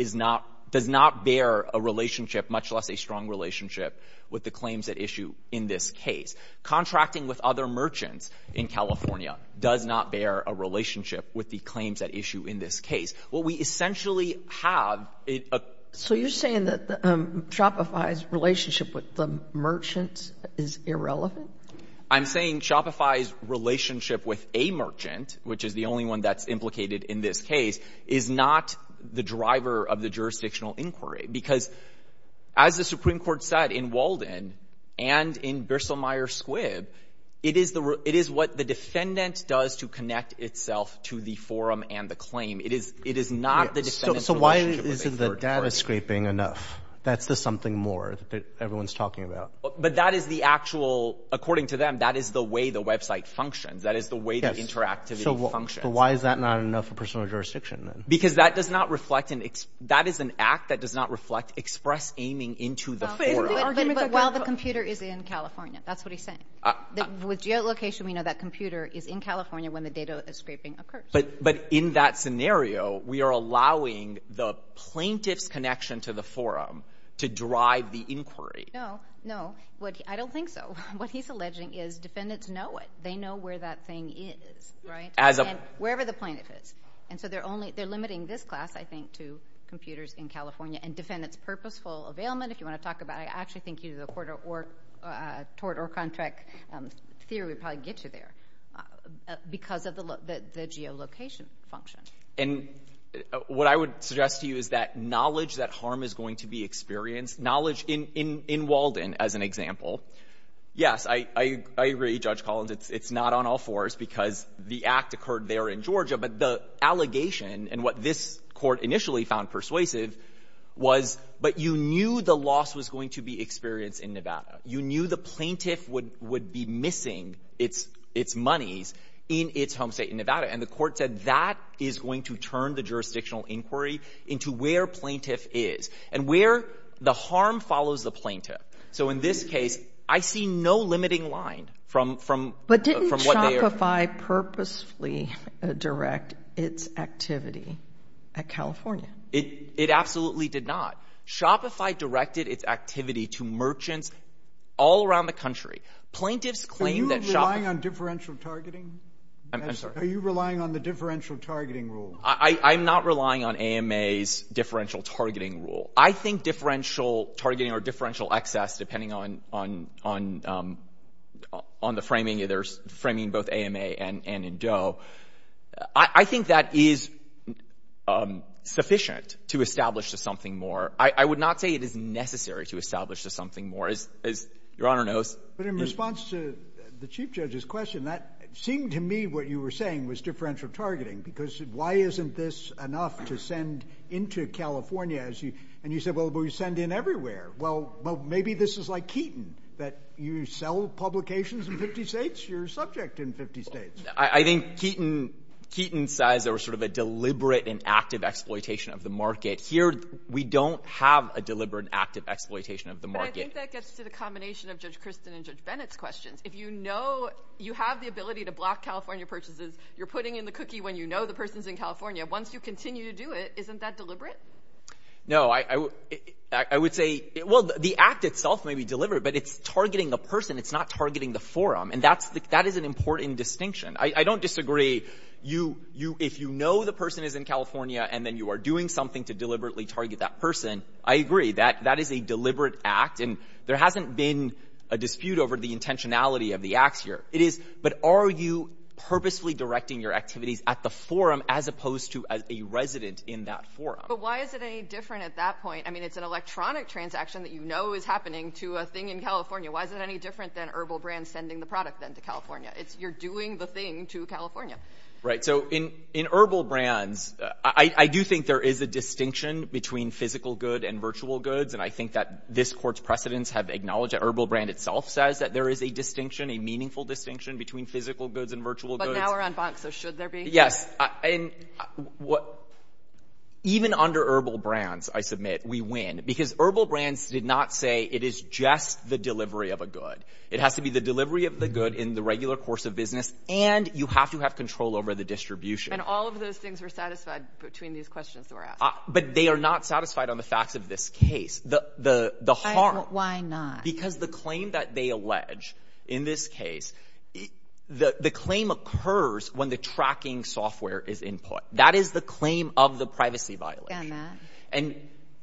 does not bear a relationship, much less a strong relationship with the claims at issue in this case. Contracting with other merchants in California does not bear a relationship with the claims at issue in this case. What we essentially have- So you're saying that Shopify's relationship with the merchants is irrelevant? I'm saying Shopify's relationship with a merchant, which is the only one that's implicated in this case, is not the driver of the jurisdictional inquiry because as the Supreme Court said in Walden and in Bissell-Myers Squibb, it is what the defendant does to connect itself to the forum and the claim. It is not the defendant's relationship- So why isn't the data scraping enough? That's the something more that everyone's talking about. But that is the actual, according to them, that is the way the website functions. That is the way the interactivity functions. But why is that not enough for personal jurisdiction then? Because that is an act that does not reflect express aiming into the forum. But while the computer is in California. That's what he's saying. With geolocation, we know that computer is in California when the data scraping occurs. But in that scenario, we are allowing the plaintiff's connection to the forum to drive the inquiry. No, no. I don't think so. What he's alleging is defendants know it. They know where that thing is, right? Wherever the plaintiff is. And so they're limiting this class, I think, to computers in California. And defendants' purposeful availment, if you want to talk about it, actually think either the court or contract theory would probably get you there. Because of the geolocation function. And what I would suggest to you is that knowledge that harm is going to be experienced. Knowledge in Walden, as an example. Yes, I agree, Judge Collins, it's not on all fours because the act occurred there in Georgia. But the allegation and what this court initially found persuasive was, but you knew the loss was going to be experienced in Nevada. You knew the plaintiff would be missing its monies in its home state in Nevada. And the court said that is going to turn the jurisdictional inquiry into where plaintiff is. And where the harm follows the plaintiff. So in this case, I see no limiting line from what they are— But didn't Shopify purposefully direct its activity at California? It absolutely did not. Shopify directed its activity to merchants all around the country. Plaintiffs claim that— Are you relying on differential targeting? I'm sorry. Are you relying on the differential targeting rule? I'm not relying on AMA's differential targeting rule. I think differential targeting or differential excess, depending on the framing, either framing both AMA and in Doe. I think that is sufficient to establish something more. I would not say it is necessary to establish something more. As your Honor knows— But in response to the Chief Judge's question, that seemed to me what you were saying was differential targeting. Because why isn't this enough to send into California? And you said, well, we send in everywhere. Well, maybe this is like Keaton, that you sell publications in 50 states, you're subject in 50 states. I think Keaton says there was sort of a deliberate and active exploitation of the market. Here, we don't have a deliberate and active exploitation of the market. But I think that gets to the combination of Judge Christin and Judge Bennett's questions. If you know you have the ability to block California purchases, you're putting in the cookie when you know the person's in California. Once you continue to do it, isn't that deliberate? No, I would say— Well, the act itself may be deliberate, but it's targeting the person. It's not targeting the forum. And that is an important distinction. I don't disagree. If you know the person is in California, and then you are doing something to deliberately target that person, I agree that that is a deliberate act. And there hasn't been a dispute over the intentionality of the acts here. It is, but are you purposefully directing your activities at the forum as opposed to as a resident in that forum? But why is it any different at that point? I mean, it's an electronic transaction that you know is happening to a thing in California. Why is it any different than Herbal Brand sending the product then to California? You're doing the thing to California. Right. So in Herbal Brands, I do think there is a distinction between physical good and virtual goods. And I think that this Court's precedents have acknowledged that Herbal Brand itself says that there is a distinction, a meaningful distinction, between physical goods and virtual goods. But now we're on Bonk, so should there be? Yes. Even under Herbal Brands, I submit, we win because Herbal Brands did not say it is just the delivery of a good. It has to be the delivery of the good in the regular course of business. And you have to have control over the distribution. And all of those things were satisfied between these questions that were asked. But they are not satisfied on the facts of this case. The harm. Why not? Because the claim that they allege in this case, the claim occurs when the tracking software is input. That is the claim of the privacy violation. And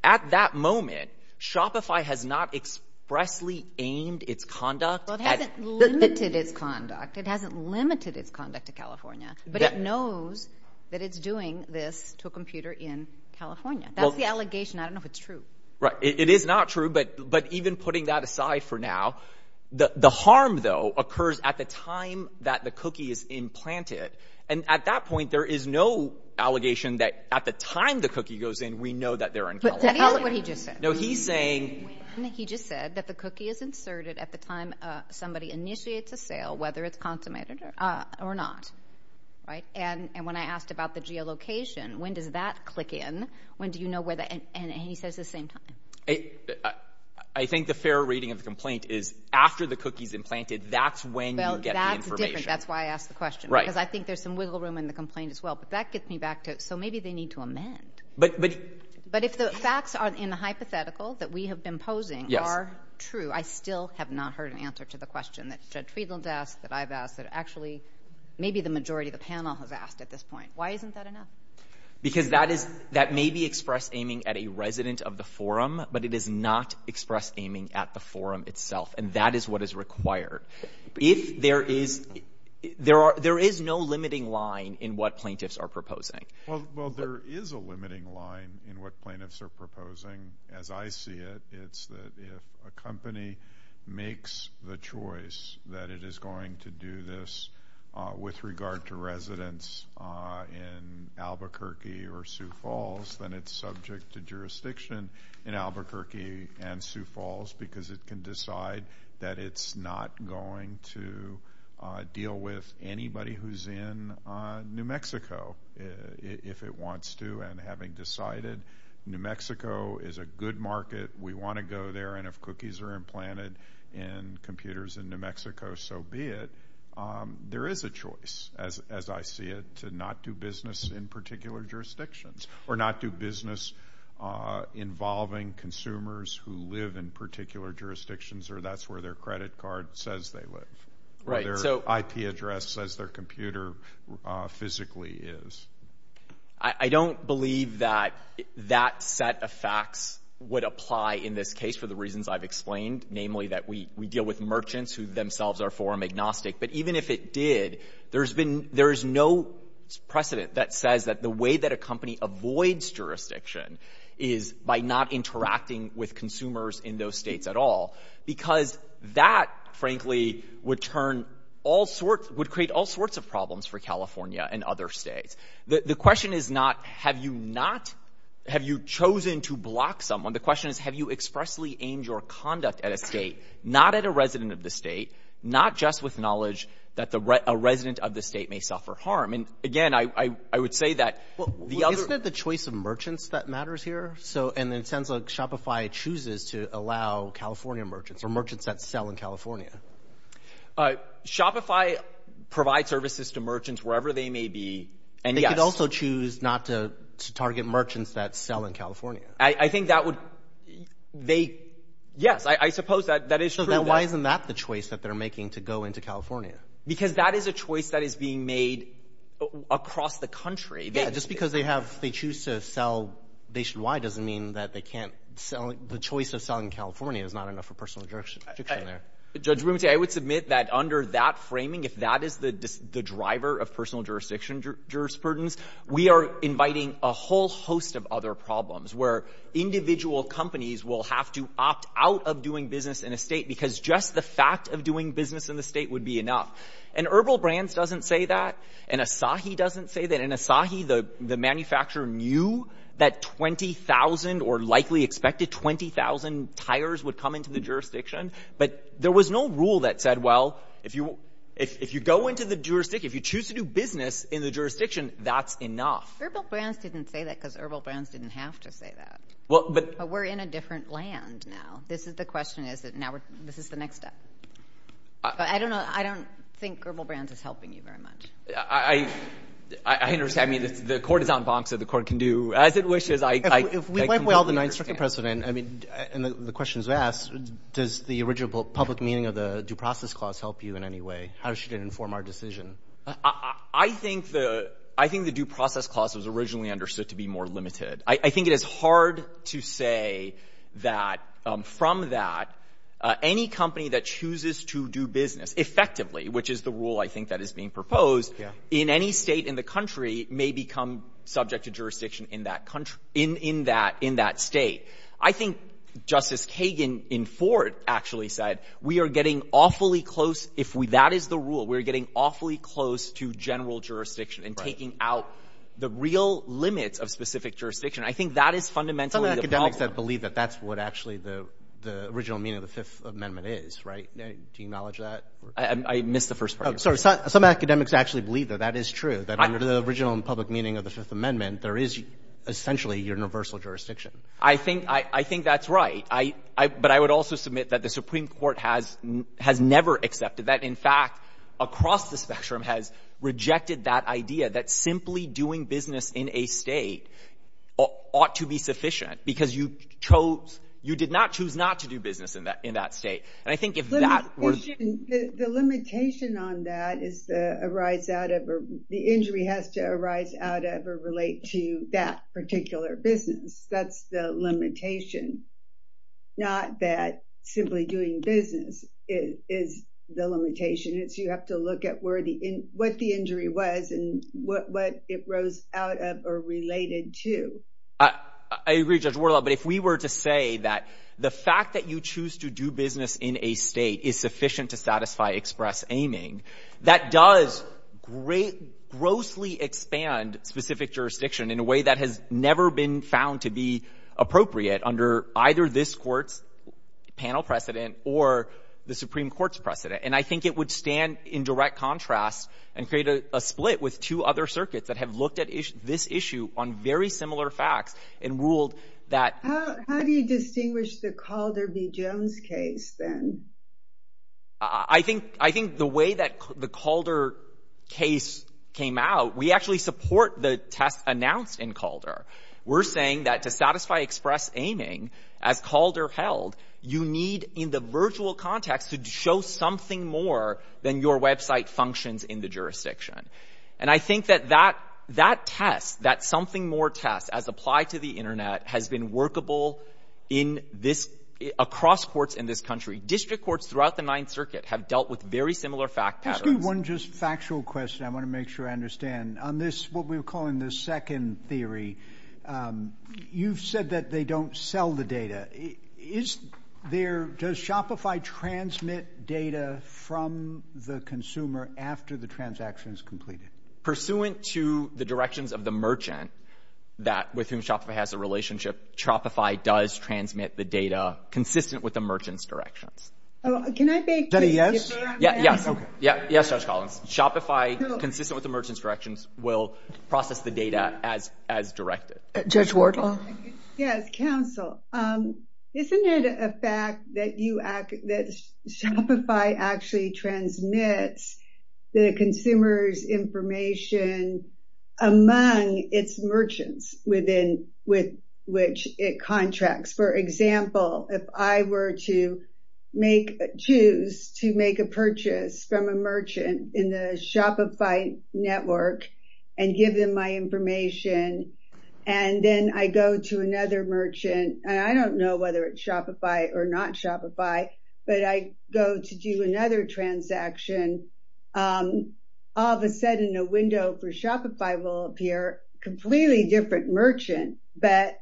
at that moment, Shopify has not expressly aimed its conduct. It hasn't limited its conduct. It hasn't limited its conduct to California. But it knows that it's doing this to a computer in California. That's the allegation. I don't know if it's true. Right. It is not true. But even putting that aside for now, the harm, though, occurs at the time that the cookie is implanted. And at that point, there is no allegation that at the time the cookie goes in, we know that they're in California. What he just said. No, he's saying. He just said that the cookie is inserted at the time somebody initiates a sale, whether it's consummated or not. Right. And when I asked about the geolocation, when does that click in? When do you know whether? And he says the same time. I think the fair reading of the complaint is after the cookie's implanted. That's when you get the information. That's why I asked the question. Right. Because I think there's some wiggle room in the complaint as well. But that gets me back to it. So maybe they need to amend. But if the facts are in the hypothetical that we have been posing are true, I still have not heard an answer to the question that Judd Tweedland asked, that I've asked, that actually maybe the majority of the panel has asked at this point. Why isn't that enough? Because that may be express aiming at a resident of the forum, but it is not express aiming at the forum itself. And that is what is required. If there is no limiting line in what plaintiffs are proposing. Well, there is a limiting line in what plaintiffs are proposing. As I see it, if a company makes the choice that it is going to do this with regard to residents in Albuquerque or Sioux Falls, then it's subject to jurisdiction in Albuquerque and Sioux Falls because it can decide that it's not going to deal with anybody who's in New Mexico if it wants to. And having decided New Mexico is a good market, we want to go there, and if cookies are implanted in computers in New Mexico, so be it. There is a choice, as I see it, to not do business in particular jurisdictions or not do business involving consumers who live in particular jurisdictions or that's where their credit card says they live. Or their IP address says their computer physically is. I don't believe that that set of facts would apply in this case for the reasons I've explained, namely that we deal with merchants who themselves are foreign agnostic, but even if it did, there's no precedent that says that the way that a company avoids jurisdiction is by not interacting with consumers in those states at all, because that, frankly, would create all sorts of problems for California and other states. The question is not, have you not, have you chosen to block someone? The question is, have you expressly aimed your conduct at a state, not at a resident of the state, not just with knowledge that a resident of the state may suffer harm? And again, I would say that the other- Isn't it the choice of merchants that matters here? So, and it sounds like Shopify chooses to allow California merchants or merchants that sell in California. Shopify provides services to merchants wherever they may be and also choose not to target merchants that sell in California. I think that would, they, yes, I suppose that is true. Why isn't that the choice that they're making to go into California? Because that is a choice that is being made across the country. Yeah, just because they have, they choose to sell nationwide doesn't mean that they can't sell, the choice of selling California is not enough for personal jurisdiction there. Judge Bumate, I would submit that under that framing, if that is the driver of personal jurisdiction, jurisprudence, we are inviting a whole host of other problems where individual companies will have to opt out of doing business in a state because just the fact of doing business in the state would be enough. And Herbal Brands doesn't say that. And Asahi doesn't say that. In Asahi, the manufacturer knew that 20,000 or likely expected 20,000 tires would come into the jurisdiction. But there was no rule that said, well, if you go into the jurisdiction, if you choose to do business in the jurisdiction, that's enough. Herbal Brands didn't say that because Herbal Brands didn't have to say that. But we're in a different land now. This is the question is that now, this is the next step. But I don't know, I don't think Herbal Brands is helping you very much. I understand. I mean, the court is on bonks that the court can do as it wishes. If we wipe away all the non-constructive precedent, I mean, and the question is asked, does the original public meaning of the due process clause help you in any way? How should it inform our decision? I think the due process clause was originally understood to be more limited. I think it is hard to say that from that, any company that chooses to do business effectively, which is the rule I think that is being proposed, in any state in the country may become subject to jurisdiction in that country, in that state. I think Justice Kagan in Ford actually said, we are getting awfully close, if that is the rule, we're getting awfully close to general jurisdiction and taking out the real limits of specific jurisdiction. I think that is fundamentally the problem. Some of the academics that believe that that's what actually the original meaning of the Fifth Amendment is, right? Do you acknowledge that? I missed the first part. Sorry, some academics actually believe that that is true, that under the original and public meaning of the Fifth Amendment, there is essentially universal jurisdiction. I think that's right. But I would also submit that the Supreme Court has never accepted that. In fact, across the spectrum has rejected that idea that simply doing business in a state ought to be sufficient because you chose, you did not choose not to do business in that state. And I think if that were... The limitation on that is the arise out of, the injury has to arise out of or relate to that particular business. That's the limitation. Not that simply doing business is the limitation. It's you have to look at what the injury was and what it rose out of or related to. I agree, Judge Wardlaw, but if we were to say that the fact that you choose to do business in a state is sufficient to satisfy express aiming, that does grossly expand specific jurisdiction in a way that has never been found to be appropriate under either this court's panel precedent or the Supreme Court's precedent. And I think it would stand in direct contrast and create a split with two other circuits that have looked at this issue on very similar facts and ruled that... How do you distinguish the Calder v. Jones case then? I think the way that the Calder case came out, we actually support the test announced in Calder. We're saying that to satisfy express aiming as Calder held, you need, in the virtual context, to show something more than your website functions in the jurisdiction. And I think that that test, that something more test as applied to the internet has been workable across courts in this country. District courts throughout the Ninth Circuit have dealt with very similar fact patterns. Can I ask you one just factual question? I want to make sure I understand. On this, what we're calling the second theory, you've said that they don't sell the data. Is there... Does Shopify transmit data from the consumer after the transaction is completed? Pursuant to the directions of the merchant that with whom Shopify has a relationship, Shopify does transmit the data consistent with the merchant's directions. Oh, can I make... Is that a yes? Yes, Judge Collins. Shopify, consistent with the merchant's directions, will process the data as directed. Judge Wardlaw? Yes, counsel. Isn't it a fact that you act... that Shopify actually transmits the consumer's information among its merchants within... with which it contracts? For example, if I were to make... choose to make a purchase from a merchant in the Shopify network and give them my information and then I go to another merchant, and I don't know whether it's Shopify or not Shopify, but I go to do another transaction, all of a sudden a window for Shopify will appear completely different merchant, but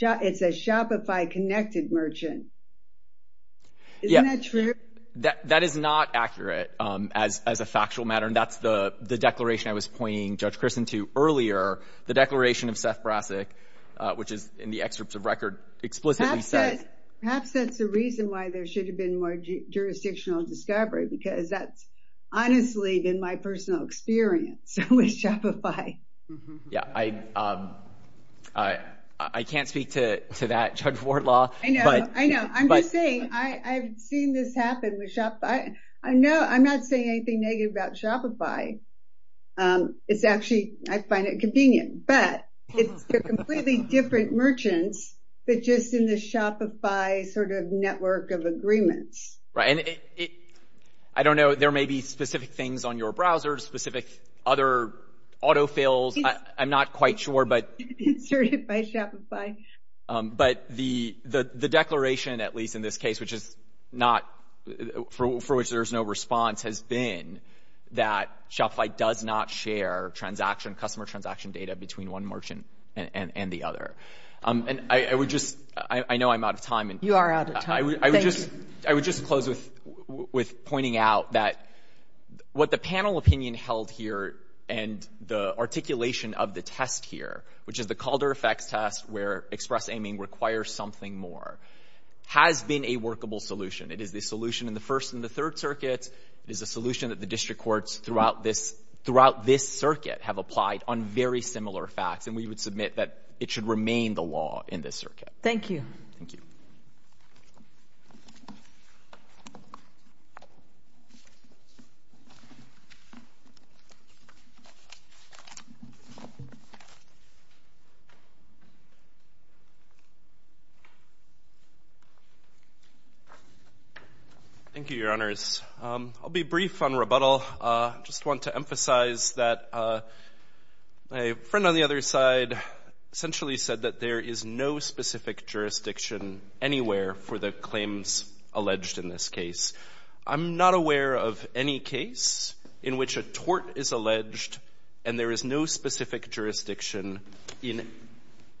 it's a Shopify-connected merchant. Isn't that true? That is not accurate as a factual matter. And that's the declaration I was pointing, Judge Christin, to earlier, the declaration of Seth Brassic, which is in the excerpts of record explicitly says... Perhaps that's the reason why there should have been more jurisdictional discovery, because that's honestly been my personal experience with Shopify. Yeah, I can't speak to that, Judge Wardlaw. I know, I know. I'm just saying, I've seen this happen with Shopify. I know, I'm not saying anything negative about Shopify. It's actually, I find it convenient, but it's a completely different merchants, but just in the Shopify sort of network of agreements. Right, and I don't know, there may be specific things on your browser, specific other autofills. I'm not quite sure, but... Inserted by Shopify. But the declaration, at least in this case, which is not, for which there's no response, has been that Shopify does not share transaction, customer transaction data between one merchant and the other. And I would just, I know I'm out of time. You are out of time, thank you. I would just close with pointing out that what the panel opinion held here and the articulation of the test here, which is the Calder effects test, where express aiming requires something more, has been a workable solution. It is the solution in the first and the third circuits. It is a solution that the district courts throughout this circuit have applied on very similar facts. And we would submit that it should remain the law in this circuit. Thank you. Thank you. Thank you, your honors. I'll be brief on rebuttal. Just want to emphasize that my friend on the other side essentially said that there is no specific jurisdiction anywhere for the claims alleged in this case. I'm not aware of any case in which a tort is alleged and there is no specific jurisdiction in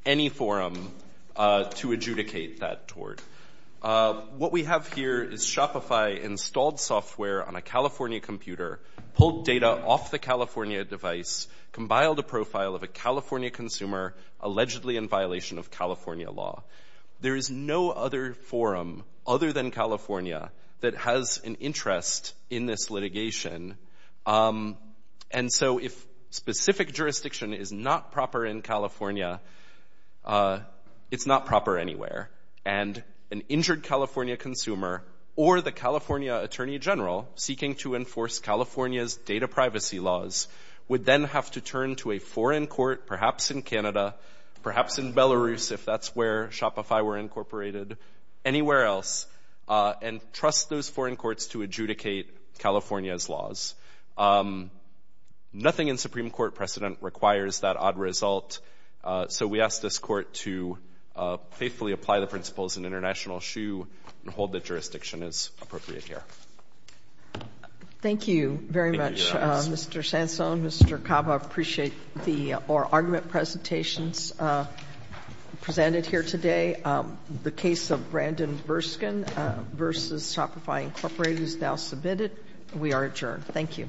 any forum to adjudicate that tort. What we have here is Shopify installed software on a California computer, pulled data off the California device, compiled a profile of a California consumer allegedly in violation of California law. There is no other forum other than California that has an interest in this litigation. And so if specific jurisdiction is not proper in California, it's not proper anywhere. And an injured California consumer or the California attorney general seeking to enforce California's data privacy laws would then have to turn to a foreign court, perhaps in Canada, perhaps in Belarus, if that's where Shopify were incorporated, anywhere else, and trust those foreign courts to adjudicate California's laws. Nothing in Supreme Court precedent requires that odd result. So we asked this court to faithfully apply the principles in international shoe and hold that jurisdiction is appropriate here. Thank you very much, Mr. Sansone, Mr. Cava. I appreciate the argument presentations presented here today. The case of Brandon Verskin versus Shopify incorporated is now submitted. We are adjourned. Thank you. Thank you.